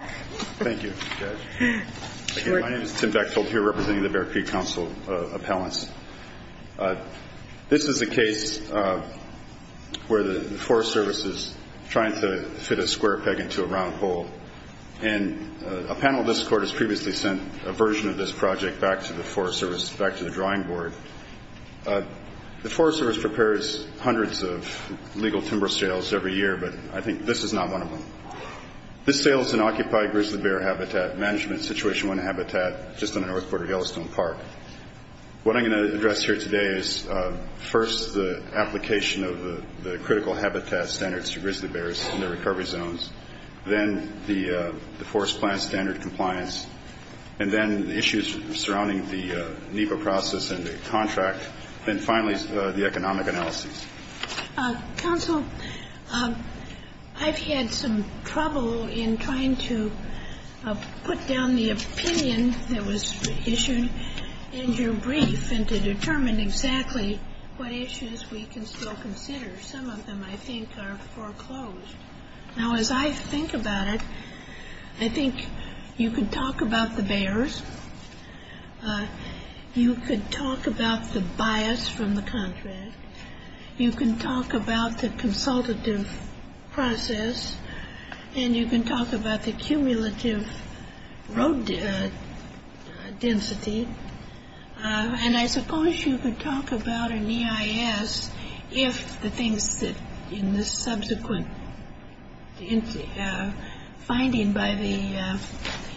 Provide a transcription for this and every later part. Thank you. My name is Tim Bechtold here representing the Bear Creek Council appellants. This is a case where the Forest Service is trying to fit a square peg into a round hole. And a panel of this court has previously sent a version of this project back to the Forest Service, back to the drawing board. The Forest Service prepares hundreds of legal timber sales every year, but I think this is not one of them. This sales an occupied grizzly bear habitat management situation, one habitat just on the north border of Yellowstone Park. What I'm going to address here today is first the application of the critical habitat standards to grizzly bears in their recovery zones, then the forest plant standard compliance, and then the issues surrounding the NEPA process and the contract, then finally the economic analysis. Counsel, I've had some trouble in trying to put down the opinion that was issued in your brief and to determine exactly what issues we can still consider. Some of them, I think, are foreclosed. Now, as I think about it, I think you could talk about the bears, you could talk about the bias from the contract, you can talk about the consultative process, and you can talk about the cumulative road density. And I suppose you could talk about an EIS if the things that in this subsequent finding by the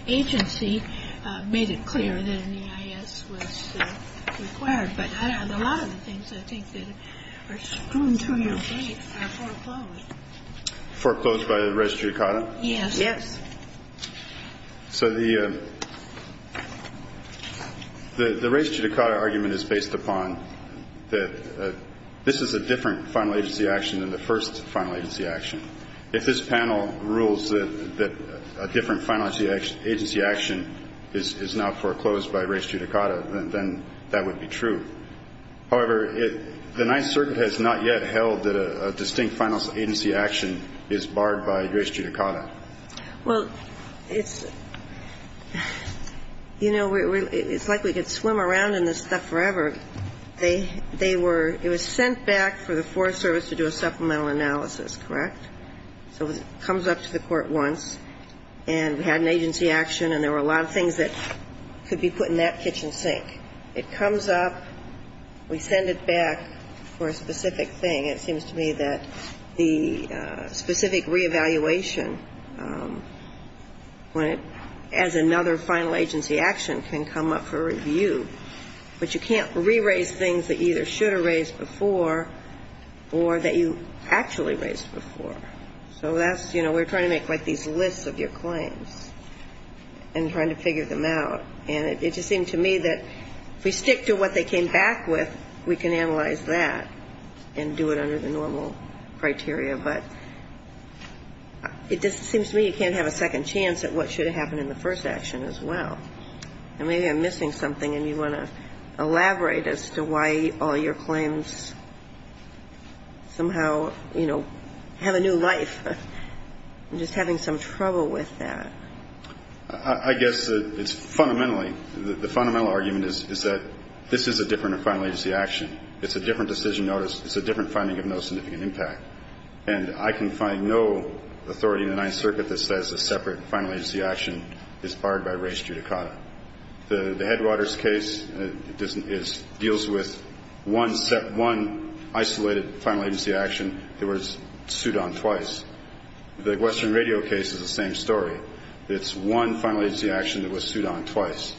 agency made it clear that an EIS was required. But a lot of the things, I think, that are going through your brief are foreclosed. Foreclosed by the Registry of CAUTA? Yes. Yes. So the Registry of CAUTA argument is based upon that this is a different final agency action than the first final agency action. If this panel rules that a different final agency action is now foreclosed by Registry of CAUTA, then that would be true. However, the Ninth Circuit has not yet held that a distinct final agency action is barred by Registry of CAUTA. Well, it's, you know, it's like we could swim around in this stuff forever. It was sent back for the Forest Service to do a supplemental analysis, correct? So it comes up to the court once, and we had an agency action, and there were a lot of things that could be put in that kitchen sink. It comes up, we send it back for a specific thing. It seems to me that the specific reevaluation as another final agency action can come up for review. But you can't re-raise things that you either should have raised before or that you actually raised before. So that's, you know, we're trying to make like these lists of your claims and trying to figure them out. And it just seemed to me that if we stick to what they came back with, we can analyze that and do it under the normal criteria. But it just seems to me you can't have a second chance at what should have happened in the first action as well. And maybe I'm missing something, and you want to elaborate as to why all your claims somehow, you know, have a new life. I'm just having some trouble with that. I guess it's fundamentally, the fundamental argument is that this is a different final agency action. It's a different decision notice. It's a different finding of no significant impact. And I can find no authority in the Ninth Circuit that says a separate final agency action is barred by res judicata. The Headwaters case deals with one isolated final agency action that was sued on twice. The Western Radio case is the same story. It's one final agency action that was sued on twice.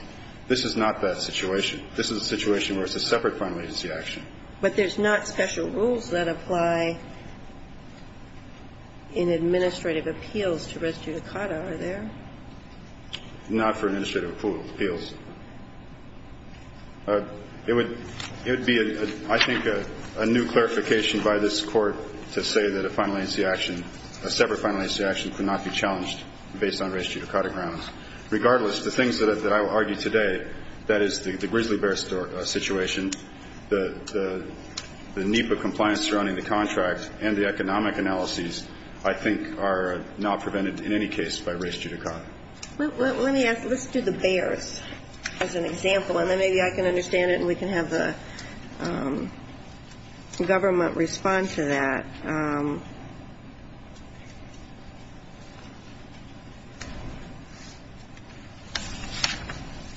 This is not that situation. This is a situation where it's a separate final agency action. But there's not special rules that apply in administrative appeals to res judicata, are there? Not for administrative appeals. It would be, I think, a new clarification by this Court to say that a final agency action, a separate final agency action could not be challenged based on res judicata grounds. Regardless, the things that I will argue today, that is, the grizzly bear situation, the NEPA compliance surrounding the contract and the economic analyses, I think, are not prevented in any case by res judicata. Let me ask, let's do the bears as an example, and then maybe I can understand it and we can have the government respond to that. But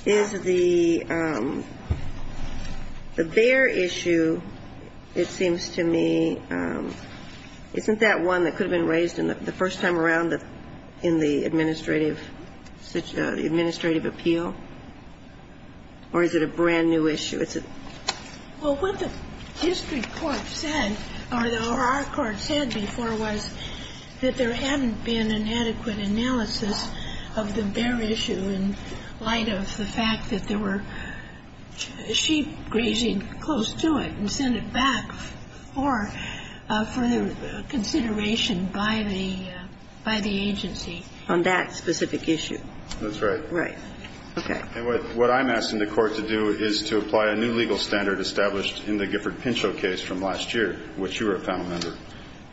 is the bear issue, it seems to me, isn't that one that could have been raised the first time around in the administrative appeal? Or is it a brand-new issue? Well, what the district court said, or our court said, is that the bear issue, what the district court said before was that there hadn't been an adequate analysis of the bear issue in light of the fact that there were sheep grazing close to it and sent it back for further consideration by the agency. On that specific issue. That's right. Right. Okay. And what I'm asking the court to do is to apply a new legal standard established in the Gifford Pinchot case from last year, in which you were a panel member.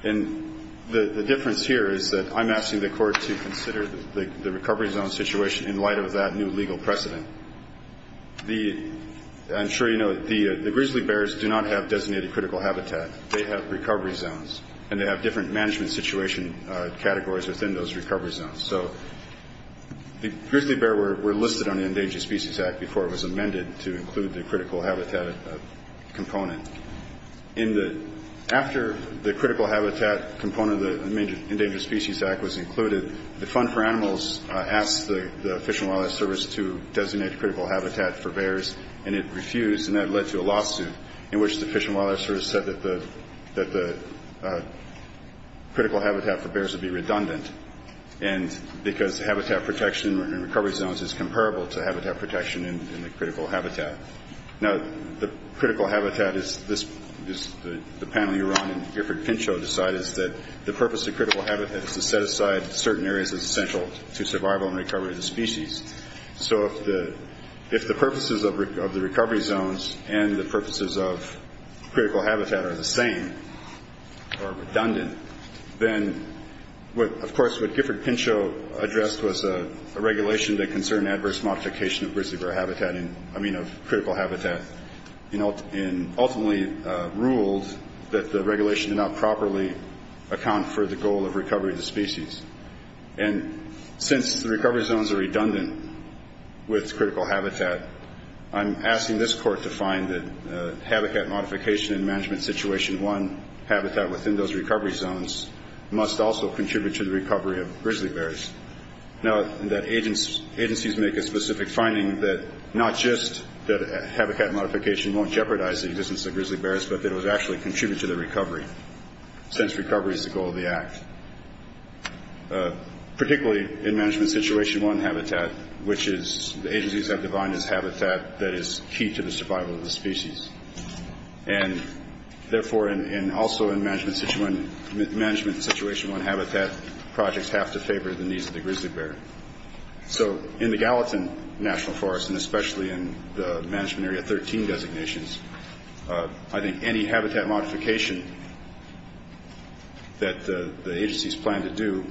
And the difference here is that I'm asking the court to consider the recovery zone situation in light of that new legal precedent. I'm sure you know the grizzly bears do not have designated critical habitat. They have recovery zones. And they have different management situation categories within those recovery zones. So the grizzly bear were listed on the Endangered Species Act before it was amended to include the critical habitat component. After the critical habitat component of the Endangered Species Act was included, the Fund for Animals asked the Fish and Wildlife Service to designate critical habitat for bears, and it refused. And that led to a lawsuit in which the Fish and Wildlife Service said that the critical habitat for bears would be redundant because habitat protection in recovery zones is comparable to habitat protection in the critical habitat. Now, the critical habitat, as the panel you run and Gifford Pinchot decide, is that the purpose of critical habitat is to set aside certain areas that are essential to survival and recovery of the species. So if the purposes of the recovery zones and the purposes of critical habitat are the same or redundant, then, of course, what Gifford Pinchot addressed was a regulation that concerned adverse modification of critical habitat and ultimately ruled that the regulation did not properly account for the goal of recovery of the species. And since the recovery zones are redundant with critical habitat, I'm asking this court to find that habitat modification in Management Situation 1 habitat within those recovery zones must also contribute to the recovery of grizzly bears. Now, agencies make a specific finding that not just that habitat modification won't jeopardize the existence of grizzly bears, but that it would actually contribute to the recovery since recovery is the goal of the Act, particularly in Management Situation 1 habitat, which is the agencies have defined as habitat that is key to the survival of the species. And, therefore, also in Management Situation 1 habitat, projects have to favor the needs of the grizzly bear. So in the Gallatin National Forest, and especially in the Management Area 13 designations, I think any habitat modification that the agencies plan to do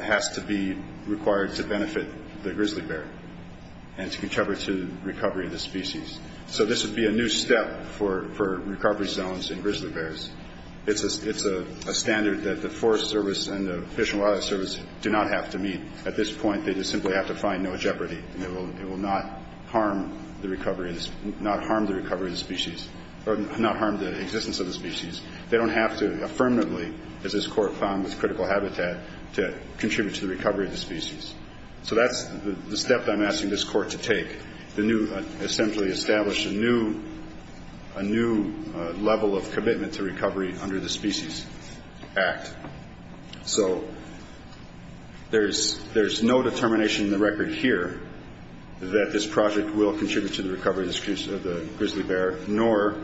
has to be required to benefit the grizzly bear and to contribute to the recovery of the species. So this would be a new step for recovery zones in grizzly bears. It's a standard that the Forest Service and the Fish and Wildlife Service do not have to meet. At this point, they just simply have to find no jeopardy, and it will not harm the recovery of the species or not harm the existence of the species. They don't have to affirmatively, as this Court found with critical habitat, to contribute to the recovery of the species. So that's the step that I'm asking this Court to take, essentially establish a new level of commitment to recovery under the Species Act. So there's no determination in the record here that this project will contribute to the recovery of the grizzly bear, nor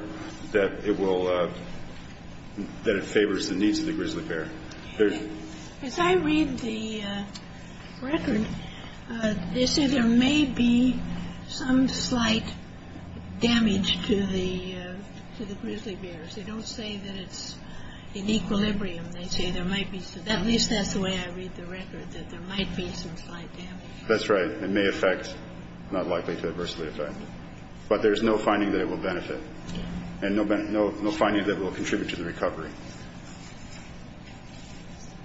that it favors the needs of the grizzly bear. As I read the record, they say there may be some slight damage to the grizzly bears. They don't say that it's in equilibrium. At least that's the way I read the record, that there might be some slight damage. That's right. It may affect, not likely to adversely affect. But there's no finding that it will benefit and no finding that it will contribute to the recovery.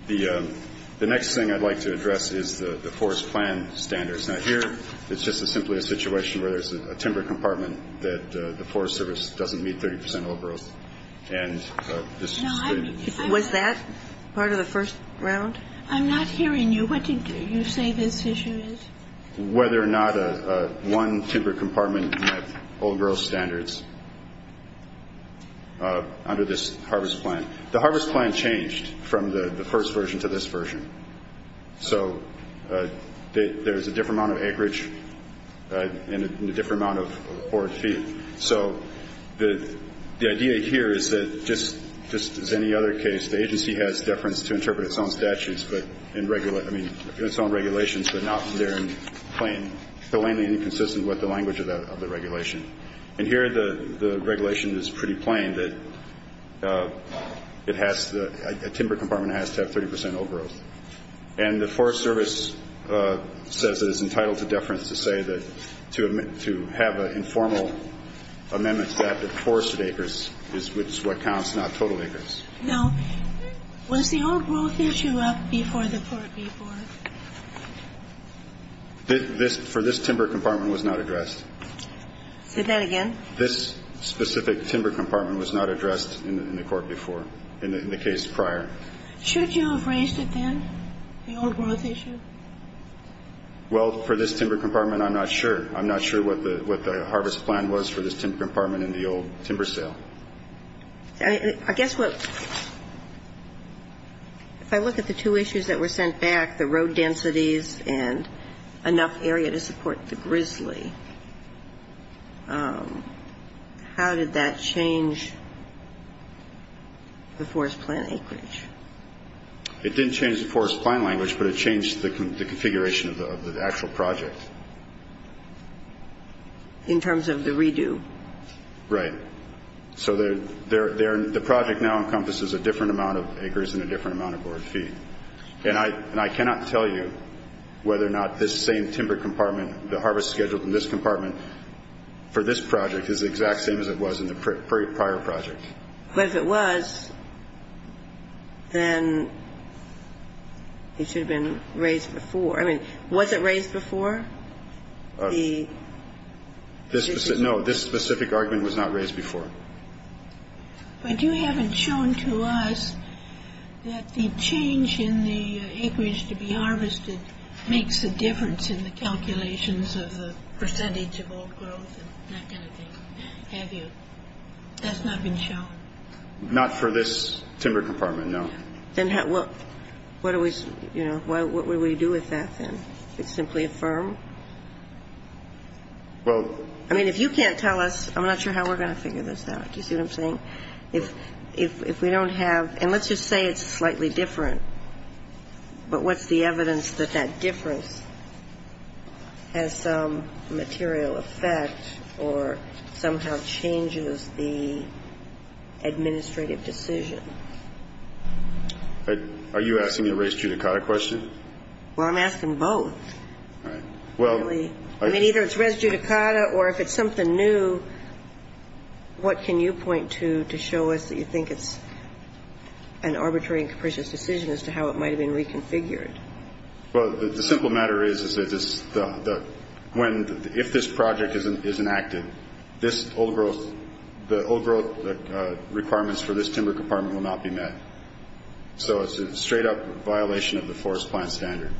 The next thing I'd like to address is the forest plan standards. Now here, it's just simply a situation where there's a timber compartment that the Forest Service doesn't meet 30 percent old growth. And this is the- Was that part of the first round? I'm not hearing you. What did you say this issue is? Whether or not one timber compartment met old growth standards under this harvest plan. The harvest plan changed from the first version to this version. So there's a different amount of acreage and a different amount of forward feet. So the idea here is that, just as any other case, the agency has deference to interpret its own statutes, I mean, its own regulations, but not that they're plain, plainly inconsistent with the language of the regulation. And here, the regulation is pretty plain that it has to, a timber compartment has to have 30 percent old growth. And the Forest Service says it is entitled to deference to say that, to have an informal amendment that the forested acres is what counts, not total acres. Now, was the old growth issue up before the Part B board? For this timber compartment, it was not addressed. Say that again? This specific timber compartment was not addressed in the court before, in the case prior. Should you have raised it then, the old growth issue? Well, for this timber compartment, I'm not sure. I'm not sure what the harvest plan was for this timber compartment in the old timber sale. I guess what, if I look at the two issues that were sent back, the road densities and enough area to support the grizzly, how did that change the forest plan acreage? It didn't change the forest plan language, but it changed the configuration of the actual project. In terms of the redo? Right. So the project now encompasses a different amount of acres and a different amount of board feet. And I cannot tell you whether or not this same timber compartment, the harvest schedule from this compartment, for this project is the exact same as it was in the prior project. But if it was, then it should have been raised before. I mean, was it raised before? No, this specific argument was not raised before. But you haven't shown to us that the change in the acreage to be harvested makes a difference in the calculations of the percentage of old growth and that kind of thing, have you? That's not been shown? Not for this timber compartment, no. Then what do we do with that then? Simply affirm? I mean, if you can't tell us, I'm not sure how we're going to figure this out. Do you see what I'm saying? If we don't have, and let's just say it's slightly different, but what's the evidence that that difference has some material effect or somehow changes the administrative decision? Are you asking the race judicata question? Well, I'm asking both. I mean, either it's race judicata or if it's something new, what can you point to to show us that you think it's an arbitrary and capricious decision as to how it might have been reconfigured? Well, the simple matter is that if this project is enacted, the old growth requirements for this timber compartment will not be met. So it's a straight-up violation of the forest plan standard.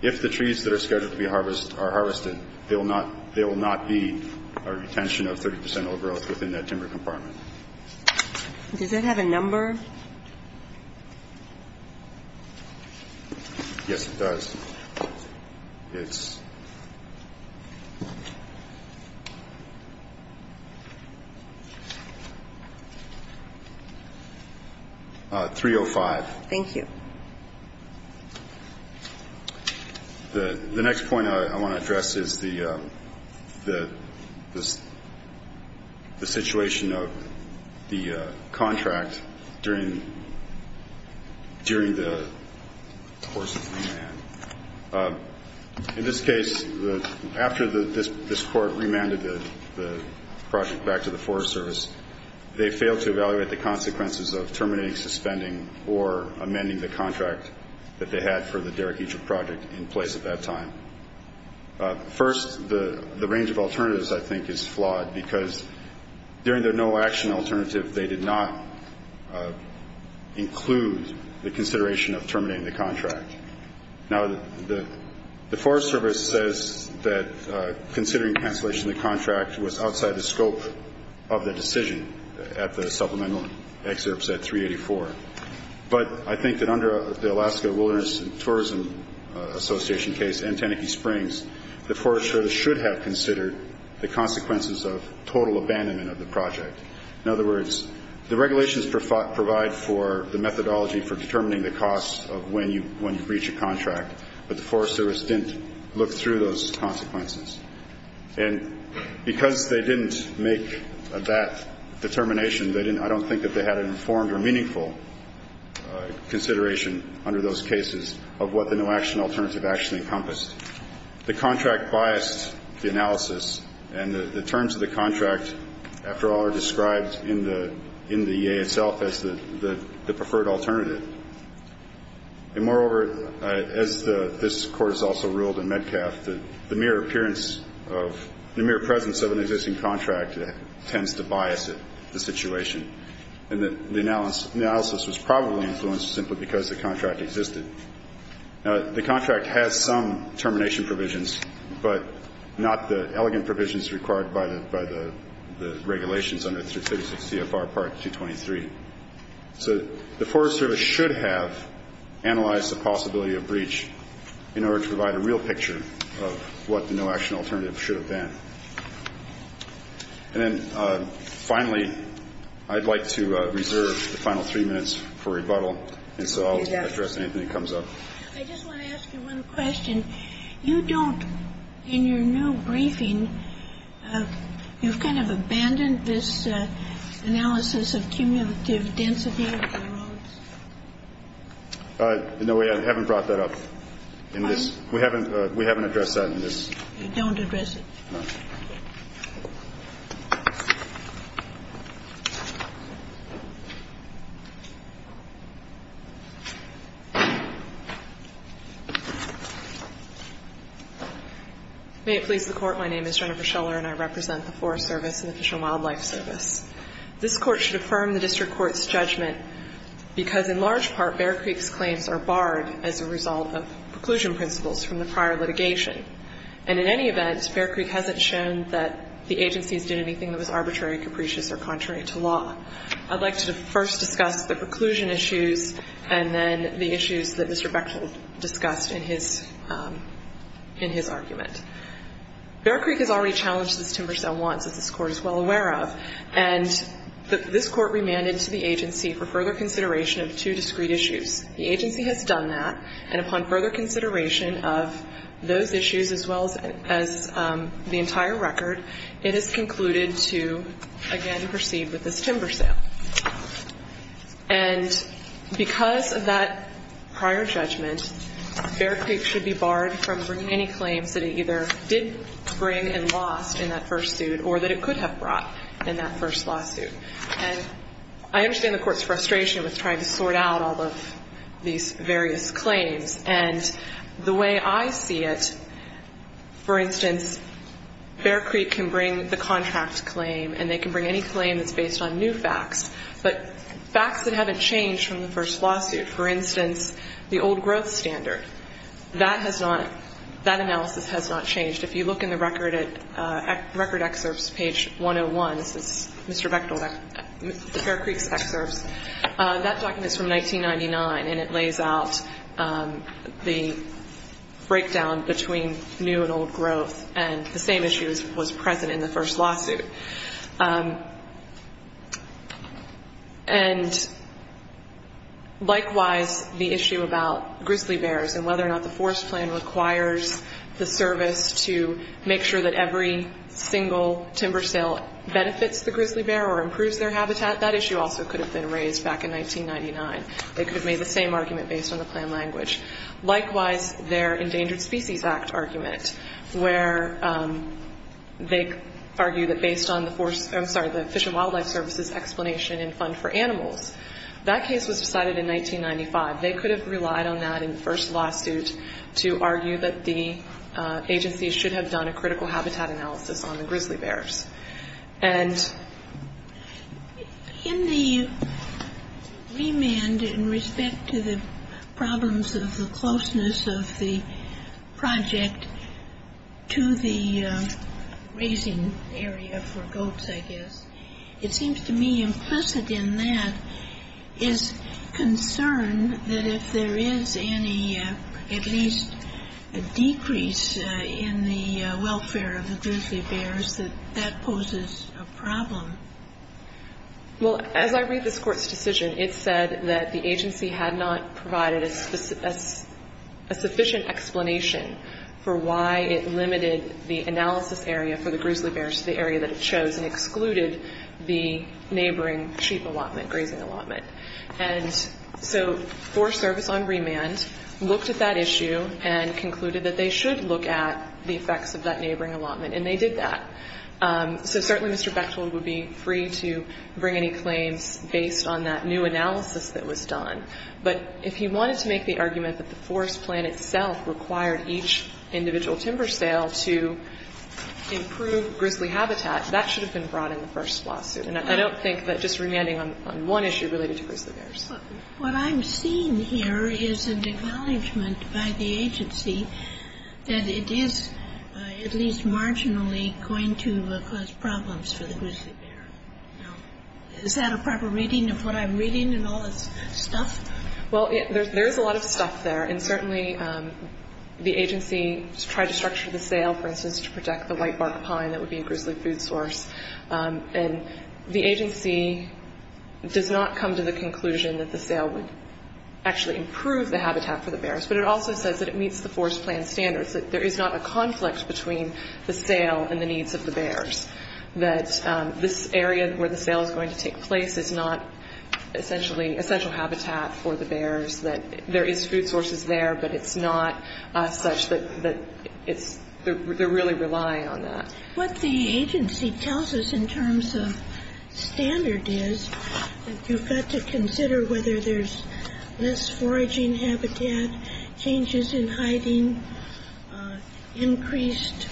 If the trees that are scheduled to be harvested are harvested, they will not be a retention of 30 percent old growth within that timber compartment. Does that have a number? Yes, it does. It's 305. Thank you. The next point I want to address is the situation of the contract during the course of remand. In this case, after this court remanded the project back to the Forest Service, they failed to evaluate the consequences of terminating, suspending, or amending the contract that they had for the Derek Eager project in place at that time. First, the range of alternatives, I think, is flawed, because during their no-action alternative they did not include the consideration of terminating the contract. Now, the Forest Service says that considering cancellation of the contract was outside the scope of the decision. At the supplemental excerpts at 384. But I think that under the Alaska Wilderness and Tourism Association case and Teneke Springs, the Forest Service should have considered the consequences of total abandonment of the project. In other words, the regulations provide for the methodology for determining the cost of when you breach a contract, but the Forest Service didn't look through those consequences. And because they didn't make that determination, I don't think that they had an informed or meaningful consideration under those cases of what the no-action alternative actually encompassed. The contract biased the analysis, and the terms of the contract, after all, are described in the EA itself as the preferred alternative. And moreover, as this Court has also ruled in Metcalf, the mere appearance of the mere presence of an existing contract tends to bias it, the situation. And the analysis was probably influenced simply because the contract existed. The contract has some termination provisions, but not the elegant provisions required by the regulations under 356 CFR Part 223. So the Forest Service should have analyzed the possibility of breach in order to provide a real picture of what the no-action alternative should have been. And then finally, I'd like to reserve the final three minutes for rebuttal, and so I'll address anything that comes up. I just want to ask you one question. You don't, in your new briefing, you've kind of abandoned this analysis of cumulative density of the roads? No, we haven't brought that up in this. We haven't addressed that in this. You don't address it? No. May it please the Court. My name is Jennifer Scheller, and I represent the Forest Service and the Fish and Wildlife Service. This Court should affirm the district court's judgment because, in large part, Bear Creek's claims are barred as a result of preclusion principles from the prior litigation. And in any event, Bear Creek hasn't shown that the agencies did anything that was arbitrary, capricious, or contrary to law. I'd like to first discuss the preclusion issues, and then the issues that Mr. Bechtold discussed in his argument. Bear Creek has already challenged this timber sale once, as this Court is well aware of. And this Court remanded to the agency for further consideration of two discrete issues. The agency has done that. And upon further consideration of those issues as well as the entire record, it is concluded to, again, proceed with this timber sale. And because of that prior judgment, Bear Creek should be barred from bringing any claims that it either did bring and lost in that first suit or that it could have brought in that first lawsuit. And I understand the Court's frustration with trying to sort out all of these various claims. And the way I see it, for instance, Bear Creek can bring the contract claim, and they can bring any claim that's based on new facts, but facts that haven't changed from the first lawsuit. For instance, the old growth standard, that analysis has not changed. If you look in the record excerpts, page 101, this is Mr. Bechtold, Bear Creek's excerpts, that document is from 1999, and it lays out the breakdown between new and old growth. And the same issue was present in the first lawsuit. And likewise, the issue about grizzly bears and whether or not the forest plan requires the service to make sure that every single timber sale benefits the grizzly bear or improves their habitat, that issue also could have been raised back in 1999. They could have made the same argument based on the plan language. Likewise, their Endangered Species Act argument, where they argue that based on the Fish and Wildlife Service's explanation and fund for animals, that case was decided in 1995. They could have relied on that in the first lawsuit to argue that the agency should have done a critical habitat analysis on the grizzly bears. And in the remand in respect to the problems of the closeness of the project to the raising area for goats, I guess, it seems to me implicit in that is concern that if there is any, at least a decrease in the welfare of the grizzly bears, that that poses a problem. Well, as I read this Court's decision, it said that the agency had not provided a sufficient explanation for why it limited the analysis area for the grizzly bears to the area that it chose and excluded the neighboring sheep allotment, grazing allotment. And so Forest Service on remand looked at that issue and concluded that they should look at the effects of that neighboring allotment, and they did that. So certainly Mr. Bechtel would be free to bring any claims based on that new analysis that was done. But if he wanted to make the argument that the forest plan itself required each individual timber sale to improve grizzly habitat, that should have been brought in the first lawsuit. And I don't think that just remanding on one issue related to grizzly bears. But what I'm seeing here is an acknowledgment by the agency that it is at least marginally going to cause problems for the grizzly bear. Now, is that a proper reading of what I'm reading and all this stuff? Well, there is a lot of stuff there. And certainly the agency tried to structure the sale, for instance, to protect the whitebark pine that would be a grizzly food source. And the agency does not come to the conclusion that the sale would actually improve the habitat for the bears. But it also says that it meets the forest plan standards, that there is not a conflict between the sale and the needs of the bears, that this area where the sale is going to take place is not essentially essential habitat for the bears, that there is food sources there, but it's not such that it's they're really relying on that. What the agency tells us in terms of standard is that you've got to consider whether there's less foraging habitat, changes in hiding, increased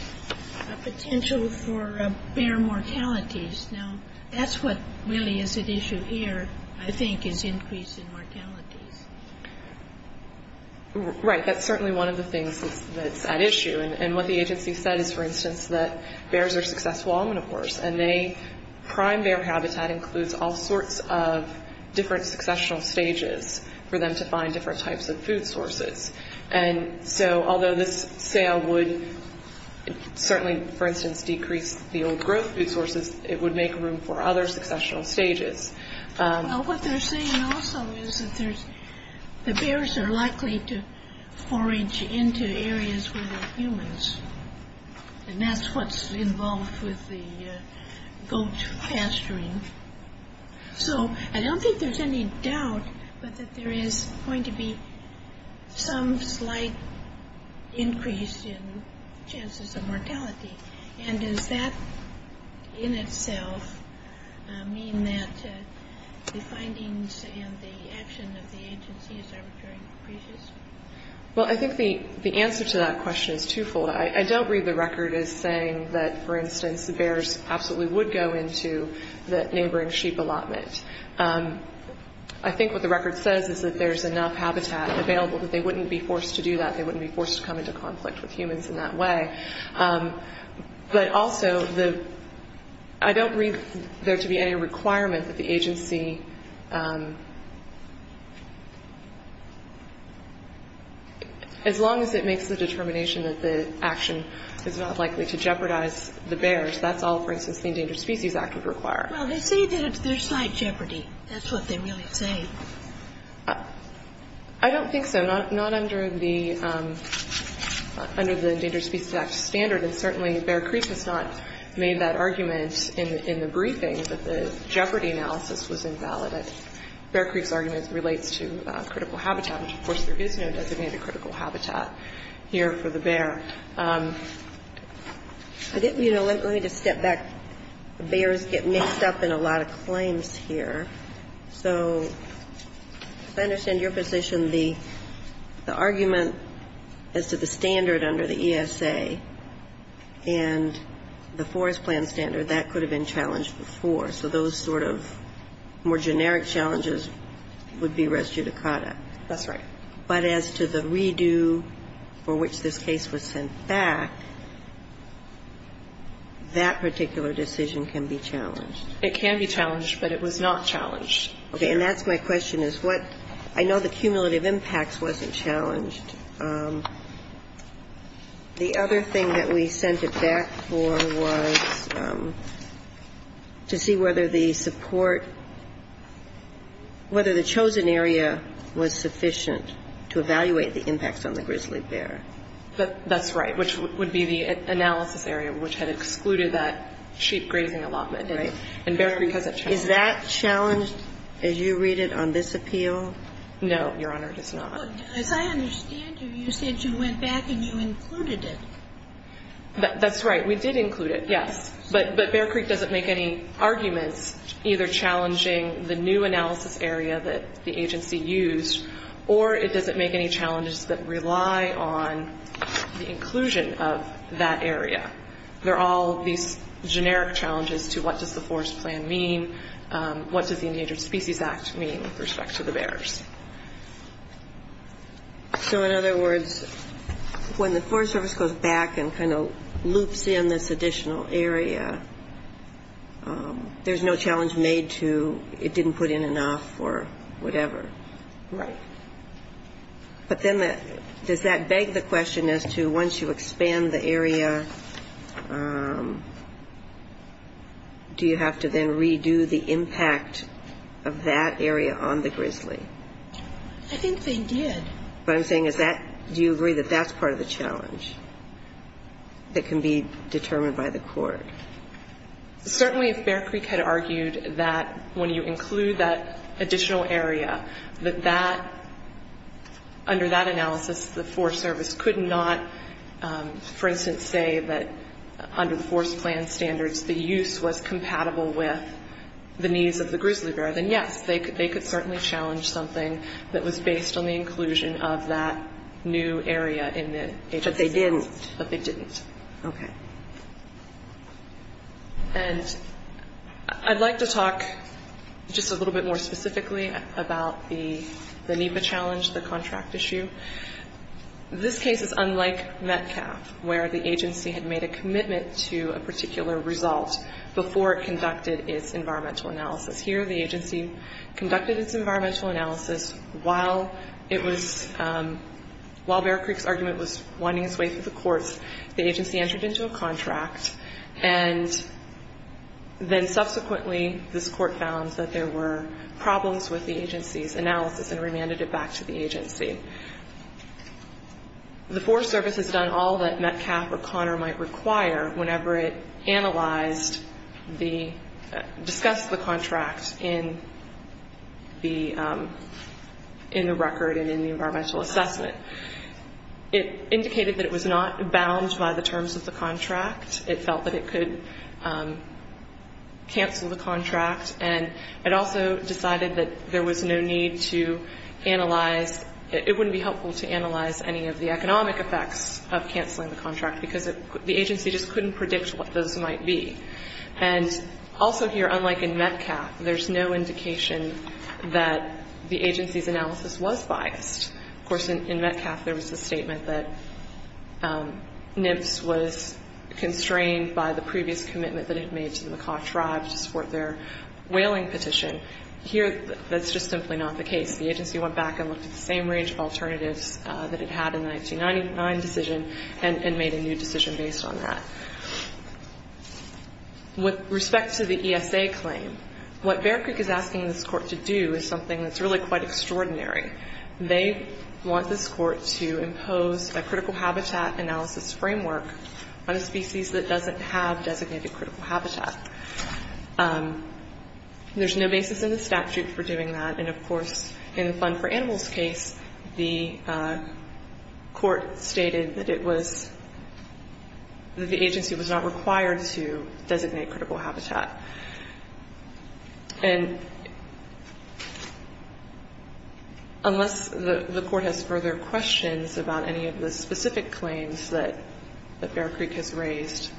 potential for bear mortalities. Now, that's what really is at issue here, I think, is increase in mortalities. Right. That's certainly one of the things that's at issue. And what the agency said is, for instance, that bears are successful omnivores, and they prime their habitat includes all sorts of different successional stages for them to find different types of food sources. And so although this sale would certainly, for instance, decrease the old growth food sources, it would make room for other successional stages. What they're saying also is that the bears are likely to forage into areas where there are humans, and that's what's involved with the goat pasturing. So I don't think there's any doubt that there is going to be some slight increase in chances of mortality. And does that in itself mean that the findings and the action of the agency is arbitrary? Well, I think the answer to that question is twofold. I don't read the record as saying that, for instance, the bears absolutely would go into the neighboring sheep allotment. I think what the record says is that there's enough habitat available that they wouldn't be forced to do that. They wouldn't be forced to come into conflict with humans in that way. But also, I don't read there to be any requirement that the agency, as long as it makes the determination that the action is not likely to jeopardize the bears, that's all, for instance, the Endangered Species Act would require. Well, they say that there's slight jeopardy. That's what they really say. I don't think so. Not under the Endangered Species Act standard, and certainly Bear Creek has not made that argument in the briefing that the jeopardy analysis was invalid. Bear Creek's argument relates to critical habitat, which, of course, there is no designated critical habitat here for the bear. You know, let me just step back. Bears get mixed up in a lot of claims here. So as I understand your position, the argument as to the standard under the ESA and the Forest Plan standard, that could have been challenged before. So those sort of more generic challenges would be res judicata. That's right. But as to the redo for which this case was sent back, that particular decision can be challenged. It can be challenged, but it was not challenged. Okay. And that's my question, is what – I know the cumulative impacts wasn't challenged. The other thing that we sent it back for was to see whether the support – whether the chosen area was sufficient to evaluate the impacts on the grizzly bear. That's right, which would be the analysis area, which had excluded that sheep grazing allotment. Right. And Bear Creek has it challenged. Is that challenged as you read it on this appeal? No, Your Honor, it is not. As I understand you, you said you went back and you included it. That's right. We did include it, yes. But Bear Creek doesn't make any arguments either challenging the new analysis area that the agency used or it doesn't make any challenges that rely on the inclusion of that area. They're all these generic challenges to what does the forest plan mean, what does the Endangered Species Act mean with respect to the bears. So in other words, when the Forest Service goes back and kind of loops in this additional area, there's no challenge made to it didn't put in enough or whatever. Right. But then does that beg the question as to once you expand the area, do you have to then redo the impact of that area on the grizzly? I think they did. What I'm saying is that do you agree that that's part of the challenge that can be determined by the court? Certainly if Bear Creek had argued that when you include that additional area, that that, under that analysis, the Forest Service could not, for instance, say that under the forest plan standards the use was compatible with the needs of the grizzly bear, then yes, they could certainly challenge something that was based on the inclusion of that new area in the agency. But they didn't. But they didn't. Okay. And I'd like to talk just a little bit more specifically about the NEPA challenge, the contract issue. This case is unlike Metcalf, where the agency had made a commitment to a particular result before it conducted its environmental analysis. Here the agency conducted its environmental analysis while it was, while Bear Creek's argument was winding its way through the courts. The agency entered into a contract, and then subsequently this court found that there were problems with the agency's analysis and remanded it back to the agency. The Forest Service has done all that Metcalf or Connor might require whenever it analyzed the, discussed the contract in the record and in the environmental assessment. It indicated that it was not bound by the terms of the contract. It felt that it could cancel the contract, and it also decided that there was no need to analyze, it wouldn't be helpful to analyze any of the economic effects of canceling the contract because the agency just couldn't predict what those might be. And also here, unlike in Metcalf, there's no indication that the agency's analysis was biased. Of course, in Metcalf, there was a statement that NIPS was constrained by the previous commitment that it had made to the Macaw tribe to support their whaling petition. Here, that's just simply not the case. The agency went back and looked at the same range of alternatives that it had in the 1999 decision and made a new decision based on that. With respect to the ESA claim, what Bear Creek is asking this court to do is something that's really quite extraordinary. They want this court to impose a critical habitat analysis framework on a species that doesn't have designated critical habitat. There's no basis in the statute for doing that. And, of course, in the Fund for Animals case, the court stated that it was, that the agency was not required to designate critical habitat. And unless the court has further questions about any of the specific claims that Bear Creek has raised,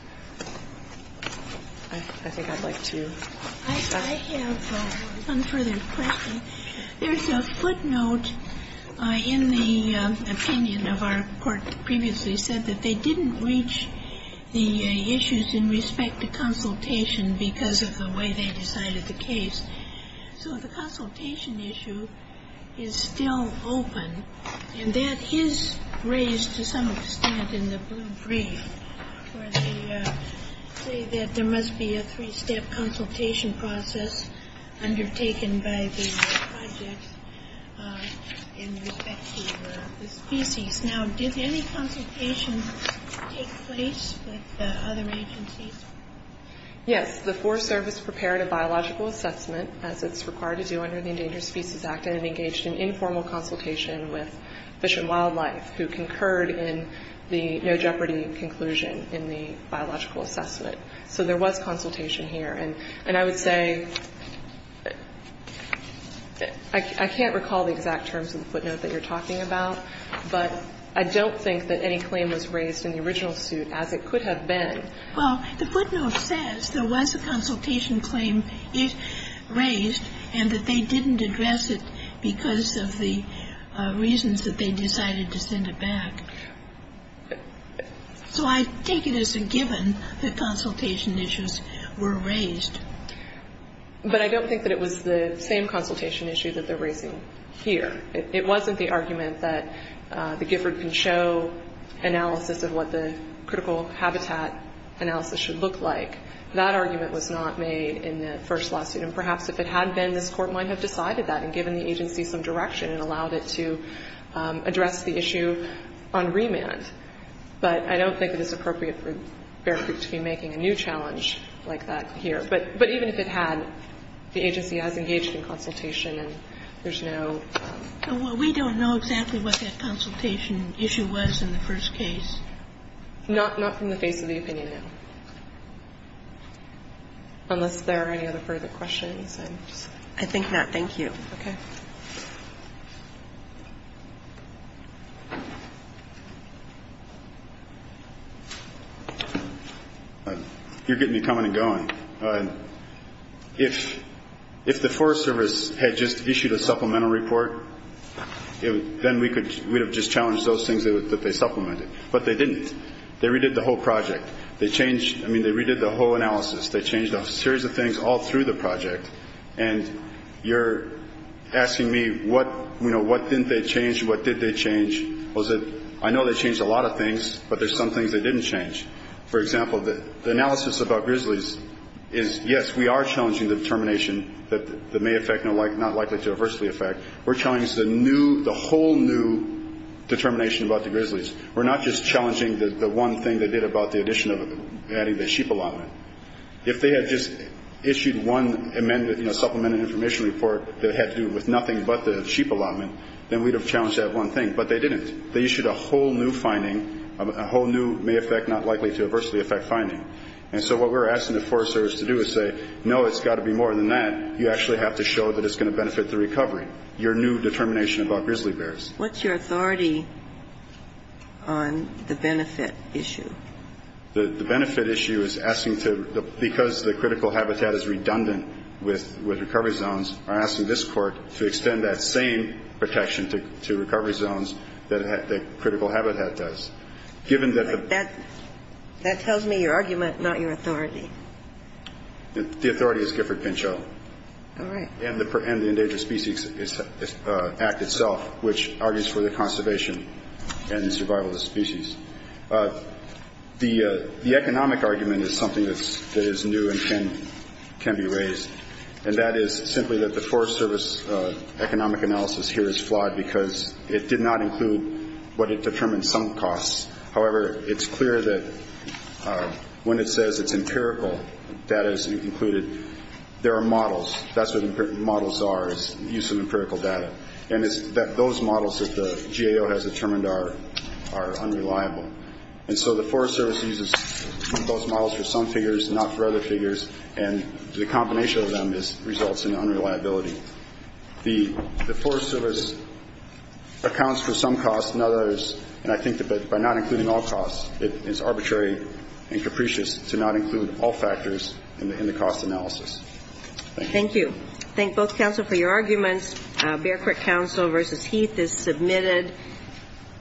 I think I'd like to stop. I have one further question. There's a footnote in the opinion of our court that previously said that they didn't the issues in respect to consultation because of the way they decided the case. So the consultation issue is still open. And that is raised to some extent in the blue brief where they say that there must be a three-step consultation process undertaken by the project in respect to the species. Now, did any consultation take place with the other agencies? Yes. The Forest Service prepared a biological assessment, as it's required to do under the Endangered Species Act, and engaged in informal consultation with Fish and Wildlife, who concurred in the no jeopardy conclusion in the biological assessment. So there was consultation here. And I would say I can't recall the exact terms of the footnote that you're talking about, but I don't think that any claim was raised in the original suit, as it could have been. Well, the footnote says there was a consultation claim raised, and that they didn't address it because of the reasons that they decided to send it back. So I take it as a given that consultation issues were raised. But I don't think that it was the same consultation issue that they're raising here. It wasn't the argument that the Gifford can show analysis of what the critical habitat analysis should look like. That argument was not made in the first lawsuit. And perhaps if it had been, this Court might have decided that and given the agency some direction and allowed it to address the issue on remand. But I don't think it is appropriate for Bear Creek to be making a new challenge like that here. But even if it had, the agency has engaged in consultation and there's no ‑‑ Well, we don't know exactly what that consultation issue was in the first case. Not from the face of the opinion, no. Unless there are any other further questions. I think not. Thank you. Okay. You're getting me coming and going. If the Forest Service had just issued a supplemental report, then we would have just challenged those things that they supplemented. But they didn't. They redid the whole project. They changed ‑‑ I mean, they redid the whole analysis. They changed a series of things all through the project. And you're asking me what, you know, what didn't they change? What did they change? I know they changed a lot of things, but there's some things they didn't change. For example, the analysis about grizzlies is, yes, we are challenging the determination that may affect, not likely to adversely affect. We're challenging the whole new determination about the grizzlies. We're not just challenging the one thing they did about the addition of adding the sheep allotment. If they had just issued one amended, you know, supplemented information report that had to do with nothing but the sheep allotment, then we'd have challenged that one thing. But they didn't. They issued a whole new finding, a whole new may affect, not likely to adversely affect finding. And so what we're asking the Forest Service to do is say, no, it's got to be more than that. You actually have to show that it's going to benefit the recovery, your new determination about grizzly bears. What's your authority on the benefit issue? The benefit issue is asking to, because the critical habitat is redundant with recovery zones, we're asking this Court to extend that same protection to recovery zones that critical habitat does. Given that the... But that tells me your argument, not your authority. The authority is Gifford-Pinchot. All right. And the Endangered Species Act itself, which argues for the conservation and survival of the species. The economic argument is something that is new and can be raised, and that is simply that the Forest Service economic analysis here is flawed because it did not include what it determines some costs. However, it's clear that when it says it's empirical, that is included. There are models. That's what models are, is use of empirical data. And it's that those models that the GAO has determined are unreliable. And so the Forest Service uses those models for some figures, not for other figures, and the combination of them results in unreliability. The Forest Service accounts for some costs and others, and I think that by not including all costs, it is arbitrary and capricious to not include all factors in the cost analysis. Thank you. Thank you. Thank both counsel for your arguments. Bear Creek Counsel v. Heath is submitted.